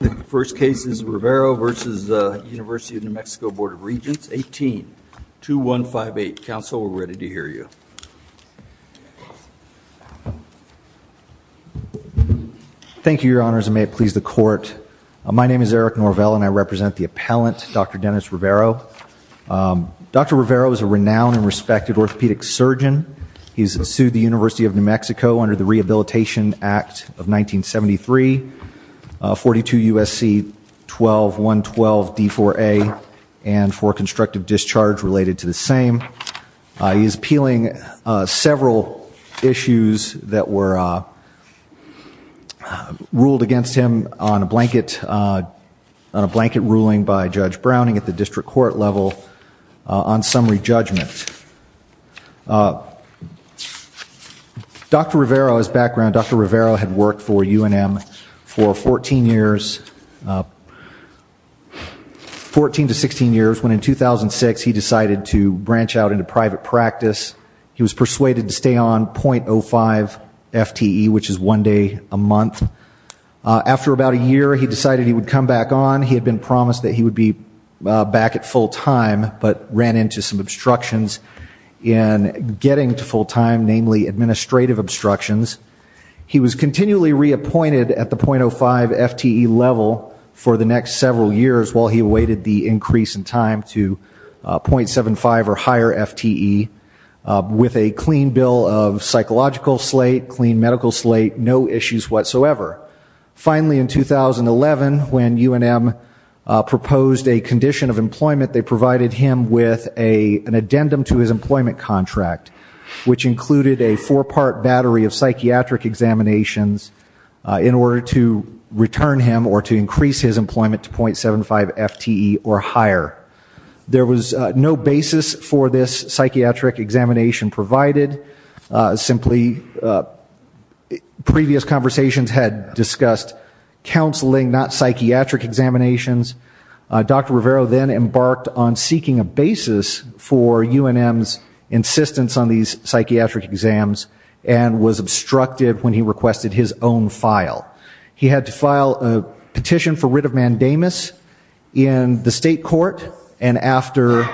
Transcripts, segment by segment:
The first case is Rivero v. Univ. N.M. Board of Regents 18-2158. Council, we're ready to hear you. Thank you, Your Honors, and may it please the Court. My name is Eric Norvell and I represent the appellant, Dr. Dennis Rivero. Dr. Rivero is a renowned and respected orthopedic surgeon. He's sued the University of New Mexico under the Rehabilitation Act of 1973, 42 U.S.C. 12-112-D4A, and for constructive discharge related to the same. He's appealing several issues that were ruled against him on a blanket ruling by Judge Browning at the district court level on summary judgment. Dr. Rivero's background, Dr. Rivero had worked for U.N.M. for 14 years, 14 to 16 years, when in 2006 he decided to branch out into private practice. He was persuaded to stay on .05 FTE, which had been promised that he would be back at full time, but ran into some obstructions in getting to full time, namely administrative obstructions. He was continually reappointed at the .05 FTE level for the next several years while he waited the increase in time to .75 or higher FTE with a clean bill of psychological slate, clean medical slate, no issues whatsoever. Finally, in 2011, when U.N.M. proposed a condition of employment, they provided him with an addendum to his employment contract, which included a four-part battery of psychiatric examinations in order to return him or to increase his employment to .75 FTE or higher. There was no basis for this psychiatric examination provided. Simply previous conversations had discussed counseling, not psychiatric examinations. Dr. Rivero then embarked on seeking a basis for U.N.M.'s insistence on these psychiatric exams and was obstructed when he requested his own file. He had to file a petition for administrative mandamus in the state court and after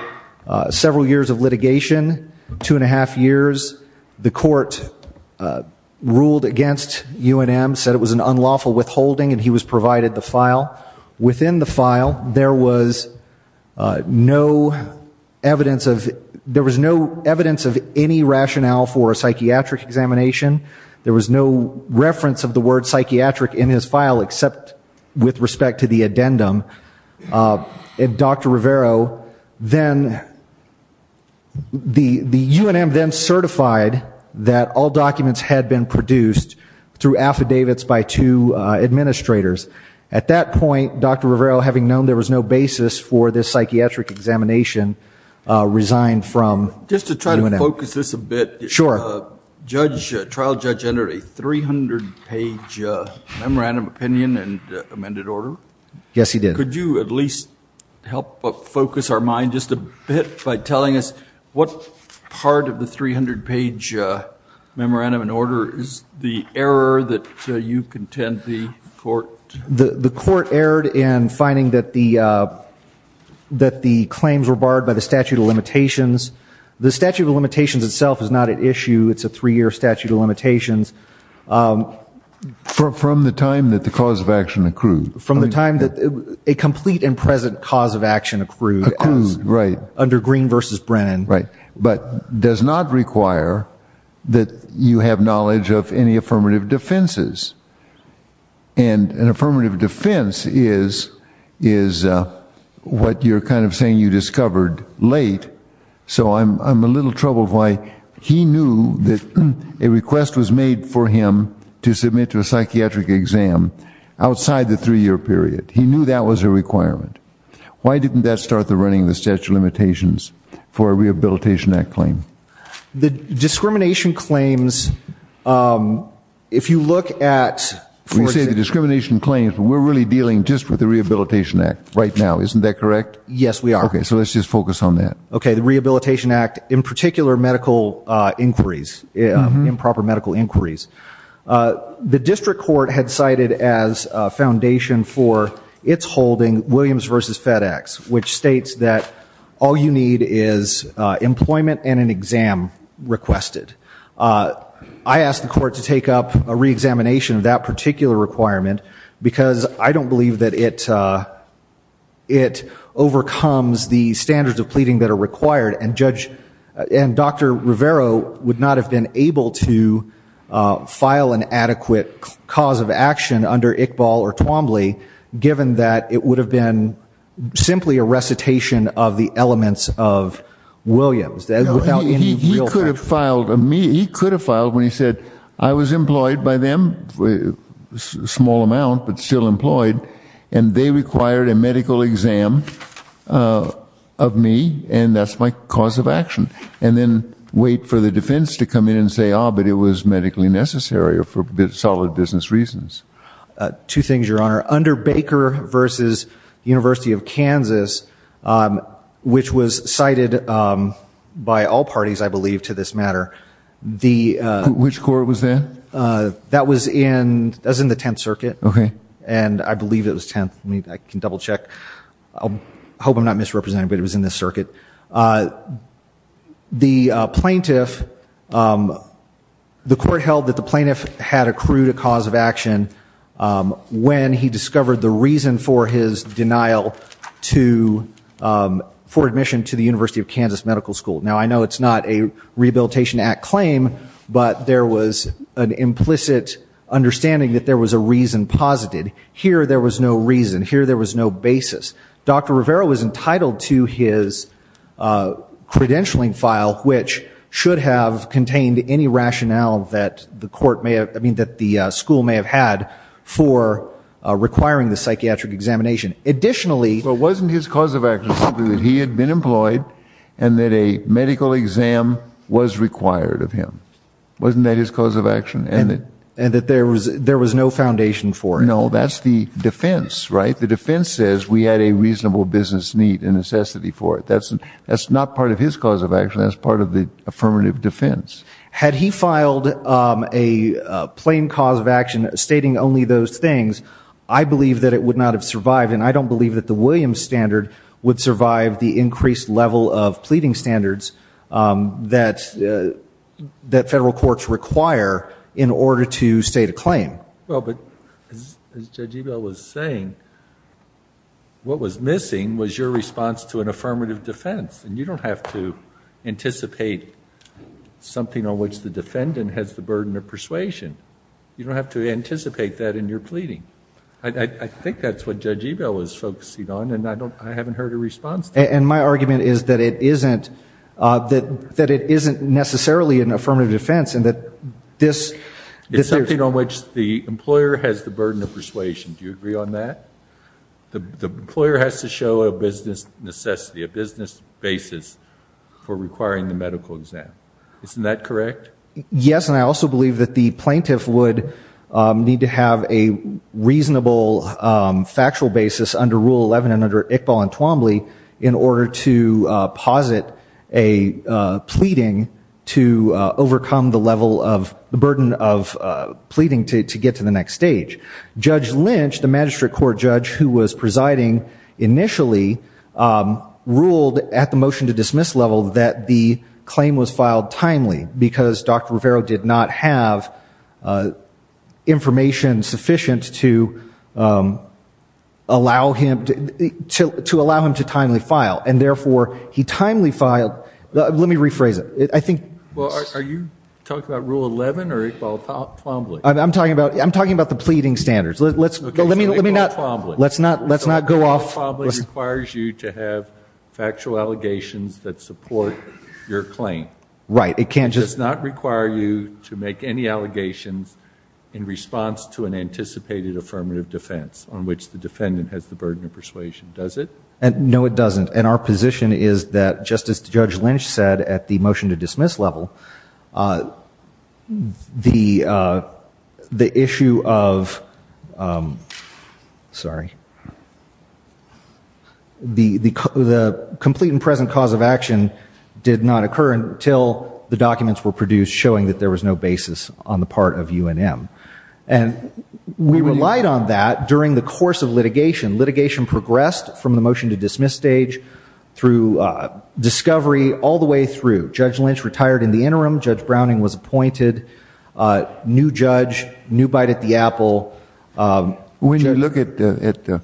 several years of litigation, two and a half years, the court ruled against U.N.M., said it was an unlawful withholding and he was provided the file. Within the file, there was no evidence of, there was no evidence of any rationale for a psychiatric examination. There was no reference of the word psychiatric in his file except with respect to the addendum. Dr. Rivero then, the U.N.M. then certified that all documents had been produced through affidavits by two administrators. At that point, Dr. Rivero, having known there was no basis for this psychiatric examination, resigned from U.N.M. Just to try to focus this a bit, the trial judge entered a 300-page memorandum of opinion and amended order. Yes, he did. Could you at least help focus our mind just a bit by telling us what part of the 300-page memorandum and order is the error that you contend the court... The statute of limitations itself is not at issue. It's a three-year statute of limitations. From the time that the cause of action accrued. From the time that a complete and present cause of action accrued. Accrued, right. Under Green v. Brennan. Right. But does not require that you have knowledge of any affirmative defenses. And an affirmative defense is what you're kind of saying you discovered late, so I'm assuming I'm a little troubled why he knew that a request was made for him to submit to a psychiatric exam outside the three-year period. He knew that was a requirement. Why didn't that start the running of the statute of limitations for a Rehabilitation Act claim? The discrimination claims, if you look at... When you say the discrimination claims, we're really dealing just with the Rehabilitation Act right now, isn't that correct? Yes, we are. Okay, so let's just focus on that. Okay, the Rehabilitation Act, in particular medical inquiries, improper medical inquiries. The district court had cited as a foundation for its holding, Williams v. FedEx, which states that all you need is employment and an exam requested. I asked the court to take up a re-examination of that particular requirement because I don't believe that it overcomes the standards of pleading that are required, and Dr. Rivero would not have been able to file an adequate cause of action under Iqbal or Twombly given that it would have been simply a recitation of the elements of Williams without any real factualization. He could have filed when he said, I was employed by them, a small amount, but still employed, and they required a medical exam of me, and that's my cause of action, and then wait for the defense to come in and say, ah, but it was medically necessary or for solid business Two things, Your Honor. Under Baker v. University of Kansas, which was cited by all parties, I believe, to this matter, the... Which court was that? That was in the Tenth Circuit. Okay. And I believe it was Tenth. I can double check. I hope I'm not misrepresenting, but it was in this circuit. The plaintiff, the court held that the plaintiff had accrued a cause of action when he discovered the reason for his denial to, for admission to the University of Kansas Medical School. Now I know it's not a Rehabilitation Act claim, but there was an implicit understanding that there was a reason posited. Here, there was no reason. Here, there was no basis. Dr. Rivera was entitled to his credentialing file, which should have contained any rationale that the court may have, I mean, that the school may have had for requiring the psychiatric examination. Additionally... But wasn't his cause of action simply that he had been employed and that a medical exam was required of him? Wasn't that his cause of action? And that there was no foundation for it? No, that's the defense, right? The defense says we had a reasonable business need and necessity for it. That's not part of his cause of action. That's part of the affirmative defense. Had he filed a plain cause of action stating only those things, I believe that it would not have survived, and I don't believe that the Williams standard would survive the increased level of pleading standards that federal courts require in order to state a claim. Well, but as Judge Ebel was saying, what was missing was your response to an affirmative defense, and you don't have to anticipate something on which the defendant has the burden of persuasion. You don't have to anticipate that in your pleading. I think that's what Judge Ebel was focusing on, and I haven't heard a response to it. And my argument is that it isn't necessarily an affirmative defense, and that this... It's something on which the employer has the burden of persuasion. Do you agree on that? The employer has to show a business necessity, a business basis for requiring the medical exam. Isn't that correct? Yes, and I also believe that the plaintiff would need to have a reasonable factual basis under Rule 11 and under Iqbal and Twombly in order to posit a pleading to overcome the level of the burden of pleading to get to the next stage. Judge Lynch, the magistrate court judge who was presiding initially, ruled at the motion to dismiss level that the claim was filed timely because Dr. Rivero did not have information sufficient to allow him to timely file. And therefore, he timely filed... Let me rephrase it. Well, are you talking about Rule 11 or Iqbal and Twombly? I'm talking about the pleading standards. Okay, so Iqbal and Twombly requires you to have factual allegations that support your claim. Right, it can't just... No, it doesn't. And our position is that, just as Judge Lynch said at the motion to dismiss level, the issue of... Sorry. The complete and present cause of action did not have to do with the fact that Judge Lynch was a part of UNM. And we relied on that during the course of litigation. Litigation progressed from the motion to dismiss stage through discovery all the way through. Judge Lynch retired in the interim. Judge Browning was appointed. New judge, new bite at the apple. When you look at the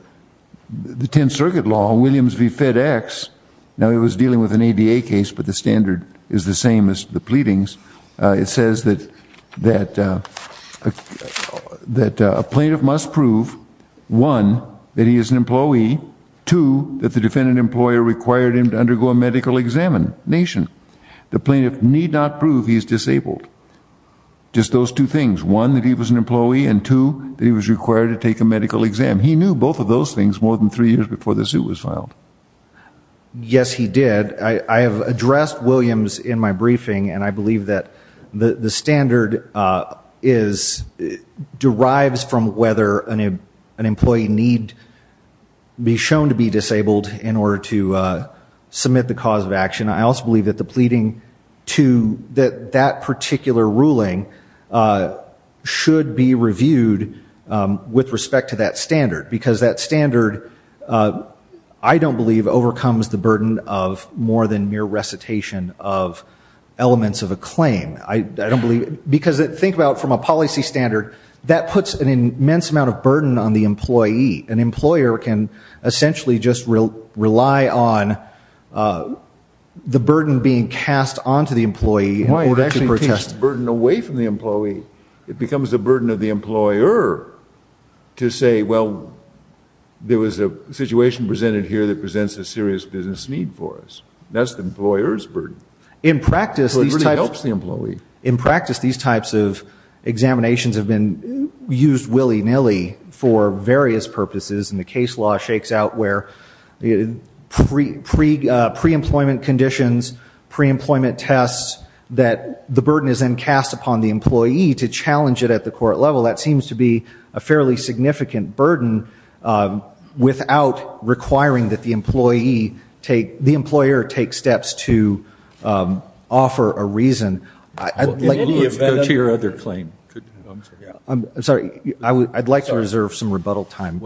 Tenth Circuit Law, Williams v. FedEx, now it was dealing with an ADA case, but the standard is the same as the pleadings. It says that a plaintiff must prove, one, that he is an employee, two, that the defendant employer required him to undergo a medical examination. The plaintiff need not prove he is disabled. Just those two things. One, that he was an employee, and two, that he was required to take a medical exam. He knew both of those things more than three years before the suit was filed. Yes, he did. I have addressed Williams in my briefing, and I believe that the standard derives from whether an employee need to be shown to be disabled in order to submit the cause of action. I also believe that the pleading to that particular ruling should be reviewed with respect to that standard, because that standard, I don't believe, overcomes the burden of more than mere recitation of elements of a claim. I don't believe, because think about from a policy standard, that puts an immense amount of burden on the employee. An employer can essentially just rely on the burden being cast onto the employee in order to protest. That's burden away from the employee. It becomes a burden of the employer to say, well, there was a situation presented here that presents a serious business need for us. That's the employer's burden. It really helps the employee. In practice, these types of examinations have been used willy-nilly for various purposes, and the case law shakes out where pre-employment conditions, pre-employment tests, that the burden is then cast upon the employee to challenge it at the court level. That seems to be a fairly significant burden without requiring that the employee take, the employer take steps to offer a reason. Let's go to your other claim. I'm sorry. I'd like to reserve some rebuttal time.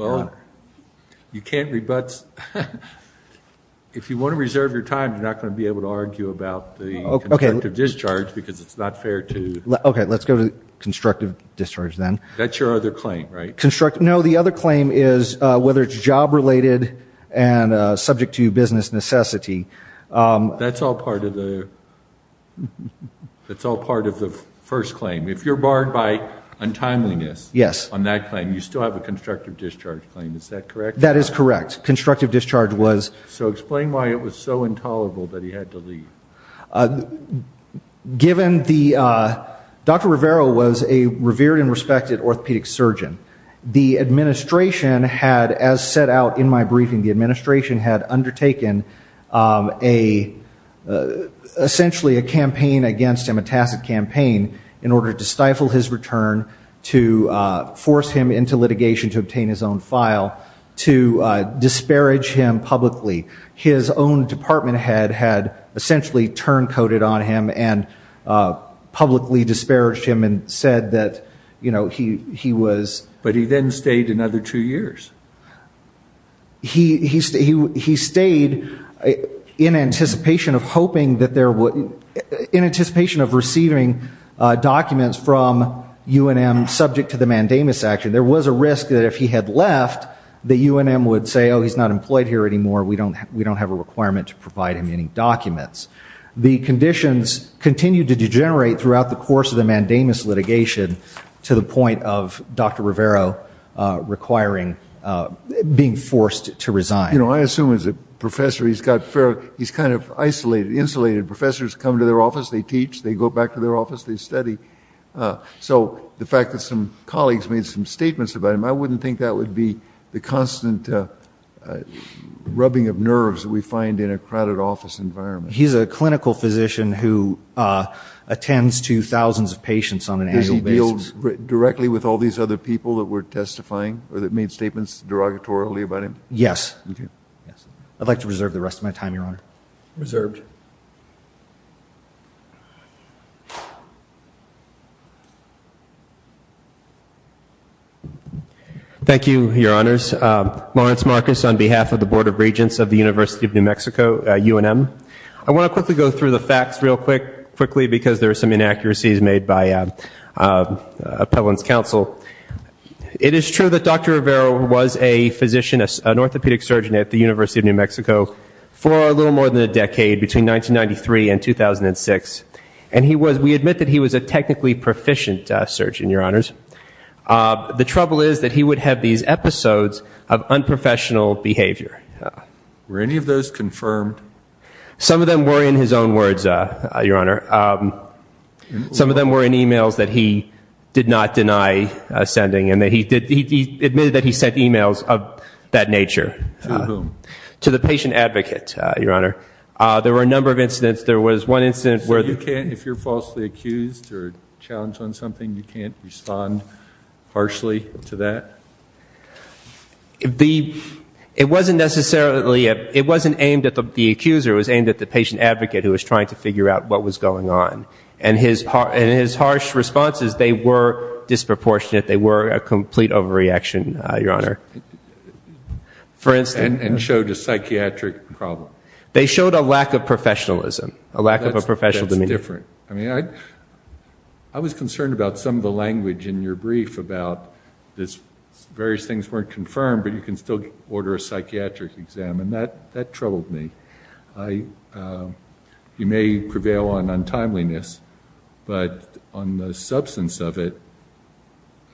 You can't rebut. If you want to reserve your time, you're not going to be able to argue about the constructive discharge because it's not fair to... Let's go to constructive discharge then. That's your other claim, right? No, the other claim is whether it's job-related and subject to business necessity. That's all part of the first claim. If you're barred by untimeliness on that claim, you still have a constructive discharge claim. Is that correct? That is correct. Constructive discharge was... Given the... Dr. Rivera was a revered and respected orthopedic surgeon. The administration had, as set out in my briefing, the administration had undertaken essentially a campaign against him, a tacit campaign in order to stifle his return, to force him into litigation to obtain his own file, to disparage him publicly. His own department head had essentially turn-coated on him and publicly disparaged him and said that he was... But he then stayed another two years. He stayed in anticipation of receiving documents from UNM subject to the mandamus action. And there was a risk that if he had left, that UNM would say, oh, he's not employed here anymore. We don't have a requirement to provide him any documents. The conditions continued to degenerate throughout the course of the mandamus litigation to the point of Dr. Rivera requiring... Being forced to resign. You know, I assume as a professor, he's got... He's kind of isolated, insulated. Professors come to their office, they teach, they go back to their office, they study. So the fact that some colleagues made some statements about him, I wouldn't think that would be the constant rubbing of nerves that we find in a crowded office environment. He's a clinical physician who attends to thousands of patients on an annual basis. Does he deal directly with all these other people that were testifying or that made statements derogatorily about him? Yes. I'd like to reserve the rest of my time, Your Honor. Thank you, Your Honors. Lawrence Marcus on behalf of the Board of Regents of the University of New Mexico, UNM. I want to quickly go through the facts real quick, quickly, because there are some inaccuracies made by appellant's counsel. It is true that Dr. Rivera was a physician, an orthopedic surgeon at the University of New Mexico for a little more than a decade, between 1993 and 2006. And he was... We admit that he was a technically proficient surgeon, Your Honors. The trouble is that he would have these episodes of unprofessional behavior. Were any of those confirmed? Some of them were in his own words, Your Honor. Some of them were in emails that he did not deny sending. And he admitted that he sent emails of that nature. To whom? To the patient advocate, Your Honor. There were a number of incidents. There was one incident where... If you're falsely accused or challenged on something, you can't respond harshly to that? It wasn't necessarily... It wasn't aimed at the accuser. It was aimed at the patient advocate who was trying to figure out what was going on. And in his harsh responses, they were disproportionate. They were a complete overreaction, Your Honor. For instance... And showed a psychiatric problem. They showed a lack of professionalism. A lack of a professional demeanor. That's different. I mean, I was concerned about some of the language in your brief about this... Various things weren't confirmed, but you can still order a psychiatric exam. And that troubled me. You may prevail on untimeliness, but on the substance of it,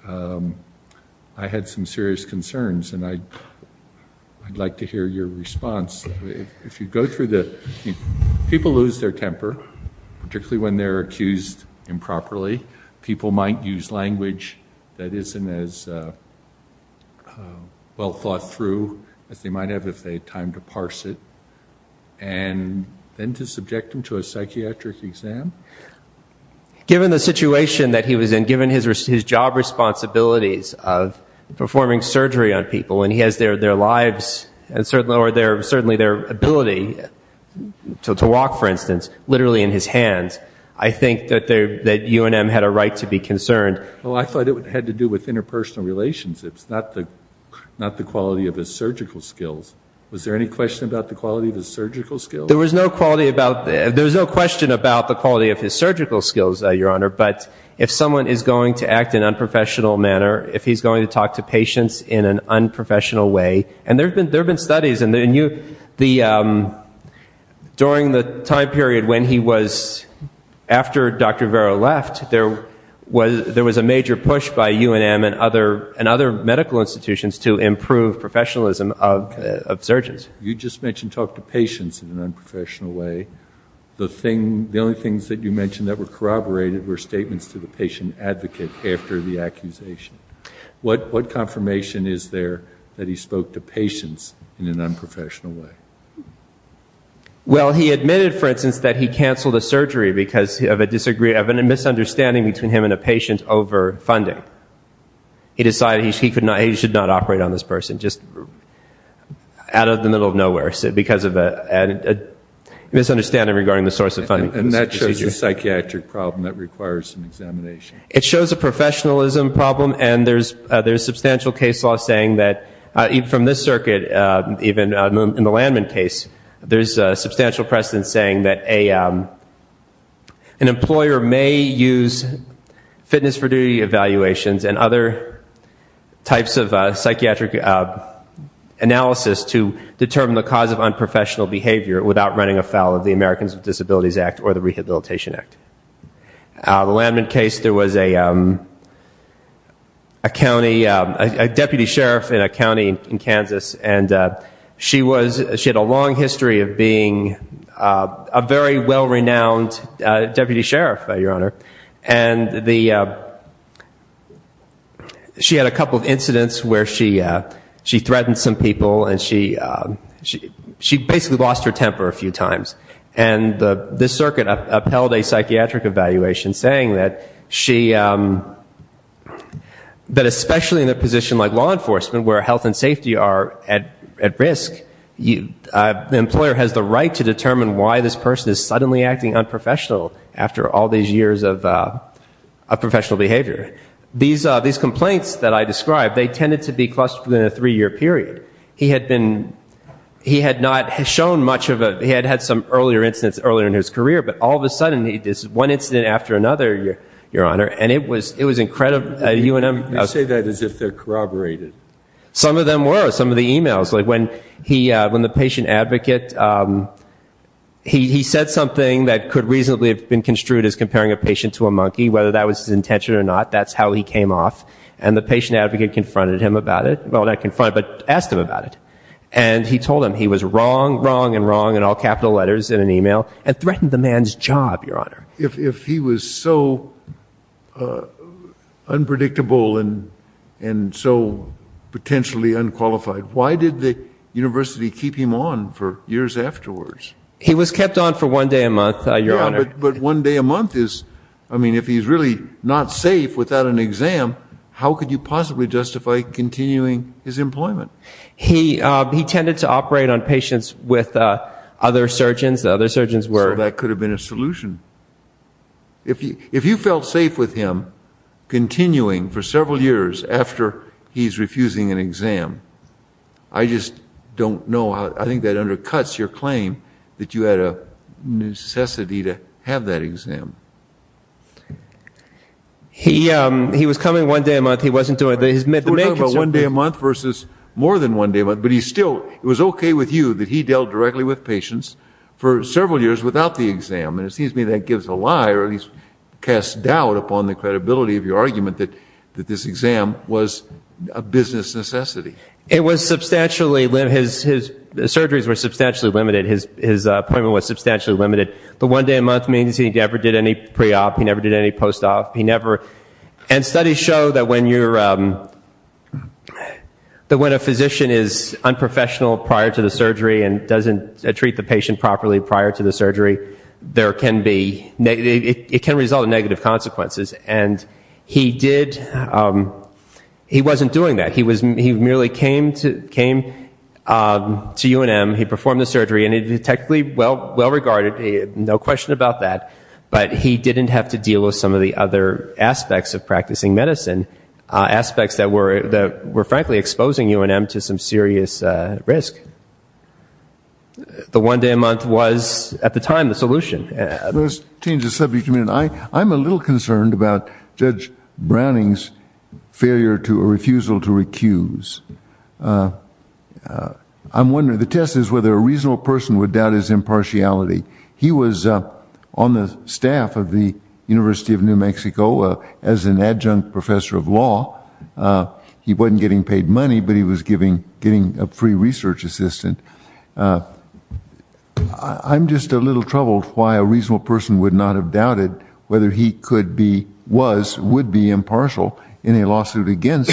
I had some serious concerns. And I'd like to hear your response. If you go through the... People lose their temper, particularly when they're accused improperly. People might use language that isn't as well thought through as they might have if they had time to parse it. And then to subject them to a psychiatric exam? Given the situation that he was in, given his job responsibilities of performing surgery on people, and he has their lives and certainly their ability to walk, for instance, literally in his hands, I think that UNM had a right to be concerned. Well, I thought it had to do with interpersonal relationships, not the quality of his surgical skills. Was there any question about the quality of his surgical skills? There was no question about the quality of his surgical skills, Your Honor. But if someone is going to act in an unprofessional manner, if he's going to talk to patients in an unprofessional way... And there have been studies. During the time period when he was... After Dr. Vero left, there was a major push by UNM and other medical institutions to improve professionalism of surgeons. You just mentioned talk to patients in an unprofessional way. The only things that you mentioned that were corroborated were statements to the patient advocate after the accusation. What confirmation is there that he spoke to patients in an unprofessional way? Well, he admitted, for instance, that he canceled the surgery because of a misunderstanding between him and a patient over funding. He decided he should not operate on this person. Just out of the middle of nowhere, because of a misunderstanding regarding the source of funding. And that shows a psychiatric problem that requires some examination. It shows a professionalism problem, and there's substantial case law saying that, even from this circuit, even in the Landman case, there's substantial precedent saying that an employer may use fitness for duty evaluations and other types of psychiatric analysis to determine the cause of unprofessional behavior without running afoul of the Americans with Disabilities Act or the Rehabilitation Act. The Landman case, there was a county... A deputy sheriff in a county in Kansas, and she had a long history of being a very well-renowned deputy sheriff, Your Honor. And she had a couple of incidents where she threatened some people and she basically lost her temper a few times. And this circuit upheld a psychiatric evaluation saying that, especially in a position like law enforcement, where health and safety are at risk, the employer has the right to determine why this person is suddenly acting unprofessional after all these years of professional behavior. These complaints that I described, they tended to be clustered within a three-year period. He had been... He had not shown much of a... He had had some earlier incidents earlier in his career, but all of a sudden, one incident after another, Your Honor, and it was incredible... You say that as if they're corroborated. Some of them were. Some of the emails, like when the patient advocate... He said something that could reasonably have been construed as comparing a patient to a monkey, whether that was his intention or not. That's how he came off. And the patient advocate confronted him about it. Well, not confronted, but asked him about it. And he told him he was wrong, wrong, and wrong in all capital letters in an email, and threatened the man's job, Your Honor. If he was so unpredictable and so potentially unqualified, why did the university keep him on for years afterwards? He was kept on for one day a month, Your Honor. But one day a month is... I mean, if he's really not safe without an exam, how could you possibly justify continuing his employment? He tended to operate on patients with other surgeons. The other surgeons were... If you felt safe with him continuing for several years after he's refusing an exam, I just don't know how... I think that undercuts your claim that you had a necessity to have that exam. He was coming one day a month. He wasn't doing... We're talking about one day a month versus more than one day a month, but he still... It was okay with you that he dealt directly with patients for several years without the lie or at least cast doubt upon the credibility of your argument that this exam was a business necessity. It was substantially... His surgeries were substantially limited. His appointment was substantially limited. The one day a month means he never did any pre-op. He never did any post-op. He never... And studies show that when you're... That when a physician is unprofessional prior to the surgery and doesn't treat the patient properly prior to the surgery, there can be... It can result in negative consequences. And he did... He wasn't doing that. He merely came to UNM, he performed the surgery, and it was technically well-regarded, no question about that, but he didn't have to deal with some of the other aspects of practicing medicine, aspects that were frankly exposing UNM to some serious risk. I think the one day a month was, at the time, the solution. Let's change the subject a minute. I'm a little concerned about Judge Browning's failure to or refusal to recuse. I'm wondering... The test is whether a reasonable person would doubt his impartiality. He was on the staff of the University of New Mexico as an adjunct professor of law. He wasn't getting paid money, but he was getting a free research assistant. I'm just a little troubled why a reasonable person would not have doubted whether he could be, was, would be impartial in a lawsuit against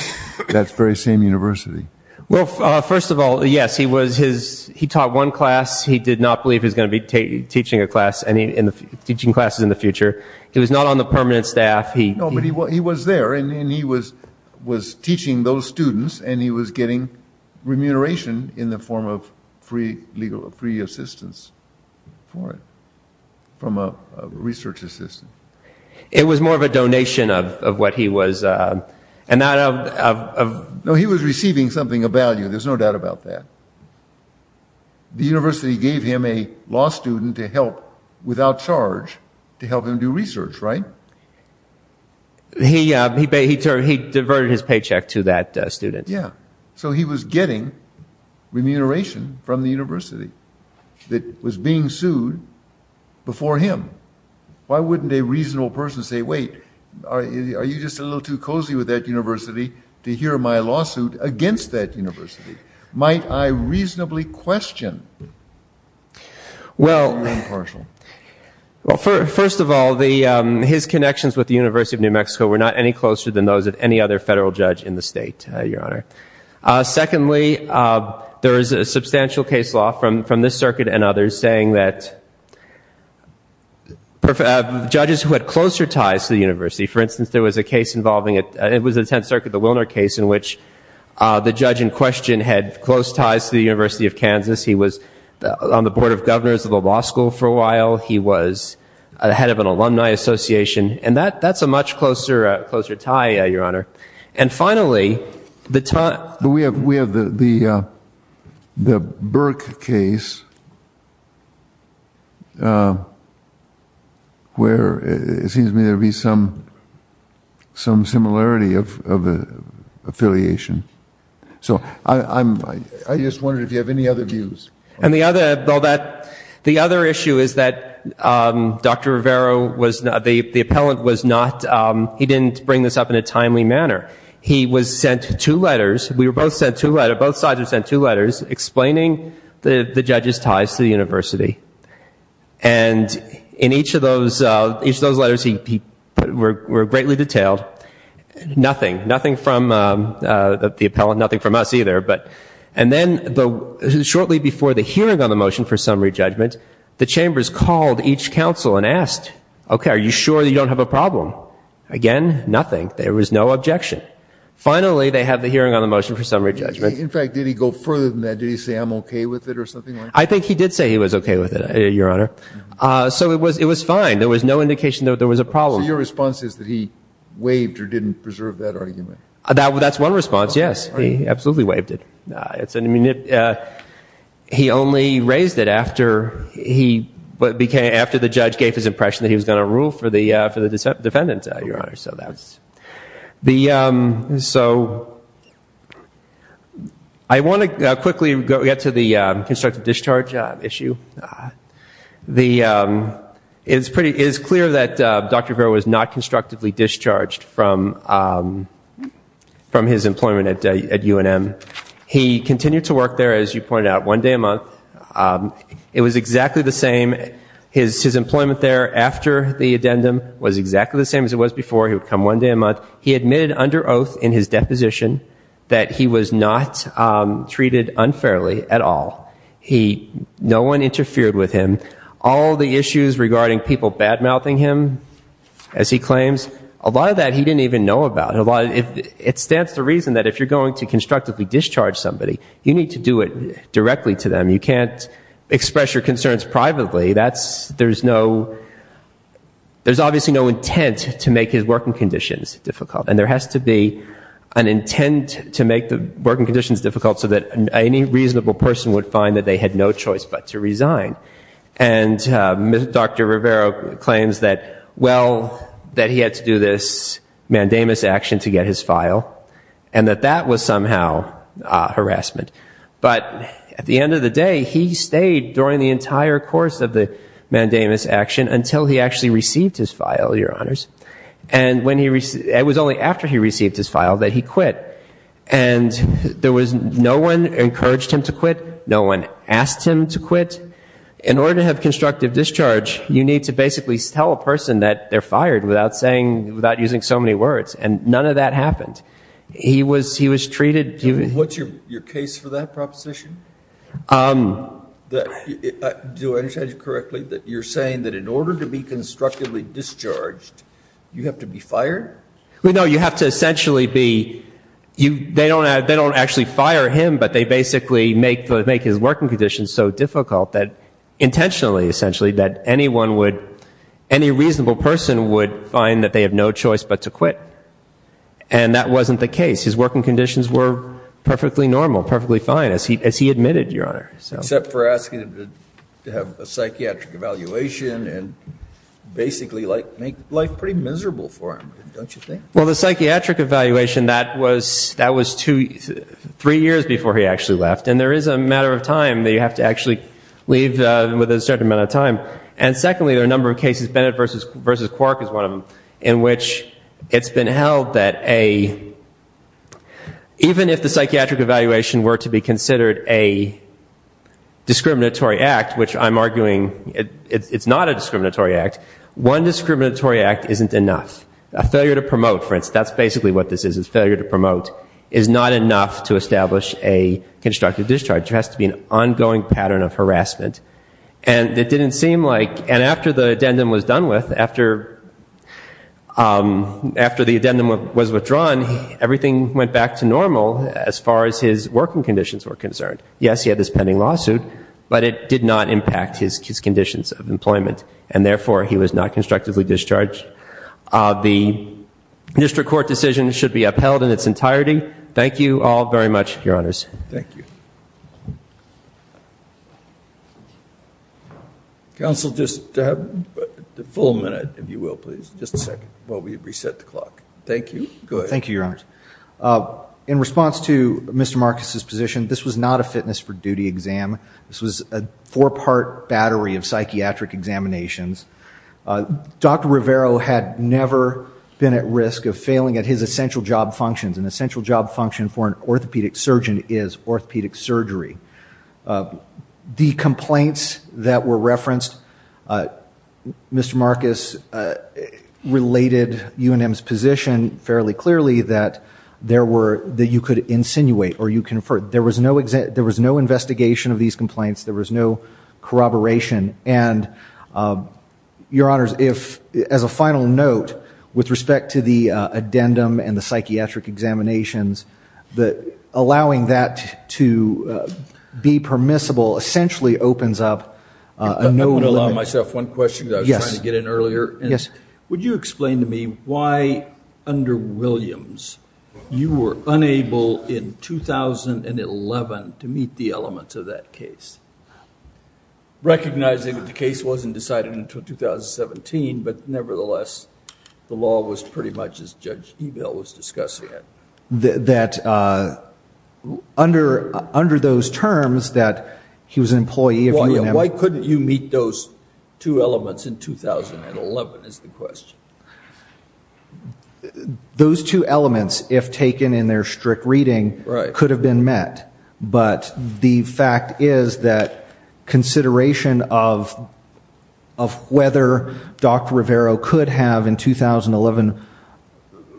that very same university. Well, first of all, yes. He taught one class. He did not believe he was going to be teaching a class, teaching classes in the future. He was not on the permanent staff. No, but he was there, and he was teaching those students, and he was getting remuneration in the form of free legal, free assistance for it from a research assistant. It was more of a donation of what he was... No, he was receiving something of value. There's no doubt about that. The university gave him a law student to help without charge to help him do research, right? He diverted his paycheck to that student. Yeah. So he was getting remuneration from the university that was being sued before him. Why wouldn't a reasonable person say, wait, are you just a little too cozy with that university to hear my lawsuit against that university? Might I reasonably question that? Well... Impartial. Well, first of all, his connections with the University of New Mexico were not any closer than those of any other federal judge in the state, Your Honor. Secondly, there is a substantial case law from this circuit and others saying that judges who had closer ties to the university, for instance, there was a case involving, it was the Tenth Circuit, the Wilner case, in which the judge in question had close ties to the University of Kansas. He was on the Board of Governors of the law school for a while. He was a head of an alumni association. And that's a much closer tie, Your Honor. And finally, the time... We have the Burke case where it seems to me there'd be some similarity of affiliation so I just wondered if you have any other views. And the other issue is that Dr. Rivero, the appellant, was not, he didn't bring this up in a timely manner. He was sent two letters, we were both sent two letters, both sides were sent two letters explaining the judge's ties to the university. And in each of those letters he put, were greatly detailed. Nothing, nothing from the appellant, nothing from us either. And then shortly before the hearing on the motion for summary judgment, the chambers called each counsel and asked, okay, are you sure you don't have a problem? Again, nothing. There was no objection. Finally, they had the hearing on the motion for summary judgment. In fact, did he go further than that? Did he say, I'm okay with it or something like that? I think he did say he was okay with it, Your Honor. So it was fine. There was no indication that there was a problem. So your response is that he waived or didn't preserve that argument? That's one response, yes. He absolutely waived it. He only raised it after the judge gave his impression that he was going to rule for the defendant, Your Honor. So I want to quickly get to the constructive discharge issue. It is clear that Dr. Verro was not constructively discharged from his employment at UNM. He continued to work there, as you pointed out, one day a month. It was exactly the same. His employment there after the addendum was exactly the same as it was before. He would come one day a month. He admitted under oath in his deposition that he was not treated unfairly at all. No one interfered with him. All the issues regarding people bad-mouthing him, as he claims, a lot of that he didn't even know about. It stands to reason that if you're going to constructively discharge somebody, you need to do it directly to them. You can't express your concerns privately. There's obviously no intent to make his working conditions difficult. And there has to be an intent to make the working conditions difficult so that any reasonable person would find that they had no choice but to resign. And Dr. Verro claims that, well, that he had to do this mandamus action to get his file, and that that was somehow harassment. But at the end of the day, he stayed during the entire course of the mandamus action until he actually received his file, that he quit. And there was no one who encouraged him to quit. No one asked him to quit. In order to have constructive discharge, you need to basically tell a person that they're fired without saying, without using so many words. And none of that happened. He was, he was treated, he was... What's your case for that proposition? Do I understand you correctly? That you're saying that in order to be constructively discharged, you have to be fired? Well, no. You have to essentially be, they don't actually fire him, but they basically make his working conditions so difficult that intentionally, essentially, that anyone would, any reasonable person would find that they have no choice but to quit. And that wasn't the case. His working conditions were perfectly normal, perfectly fine, as he admitted, Your Honor. Except for asking him to have a psychiatric evaluation and basically make life pretty miserable for him, don't you think? Well, the psychiatric evaluation, that was, that was two, three years before he actually left. And there is a matter of time that you have to actually leave with a certain amount of time. And secondly, there are a number of cases, Bennett v. Quark is one of them, in which it's been held that a, even if the psychiatric evaluation were to be considered a discriminatory act, which I'm arguing it's not a discriminatory act, one discriminatory act isn't enough. A failure to promote, that's basically what this is, is failure to promote, is not enough to establish a constructive discharge. There has to be an ongoing pattern of harassment. And it didn't seem like, and after the addendum was done with, after, after the addendum was withdrawn, everything went back to normal as far as his working conditions were concerned. Yes, he had this pending lawsuit, but it did not impact his conditions of employment. And therefore, he was not constructively discharged. The district court decision should be upheld in its entirety. Thank you all very much, your honors. Thank you. Counsel, just a full minute, if you will, please. Just a second while we reset the clock. Thank you. Go ahead. Thank you, your honors. In response to Mr. Marcus's position, this was not a fitness for duty exam. This was a four-part battery of psychiatric examinations. Dr. Rivero had never been at risk of failing at his essential job functions. An essential job function for an orthopedic surgeon is orthopedic surgery. The complaints that were referenced, Mr. Marcus related UNM's position fairly clearly that there were, that you could insinuate or you could infer. There was no investigation of these complaints. There was no corroboration. And your honors, if, as a final note, with respect to the addendum and the psychiatric examinations, that allowing that to be permissible essentially opens up a note of limits. I'm going to allow myself one question because I was trying to get in earlier. Yes. Would you explain to me why, under Williams, you were unable in 2011 to meet the elements of that case? Recognizing that the case wasn't decided until 2017, but nevertheless, the law was pretty much as Judge Ebell was discussing it. That, under those terms, that he was an employee of UNM. Why couldn't you meet those two elements in 2011 is the question. Those two elements, if taken in their strict reading, could have been met. But the fact is that consideration of whether Dr. Rivero could have, in 2011,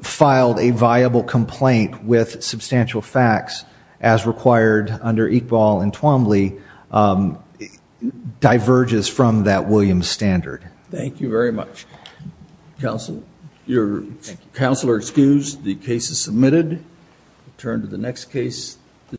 filed a viable complaint with substantial facts as required under Iqbal and Twombly diverges from that Williams standard. Thank you very much, counsel. Your counsel is excused. The case is submitted.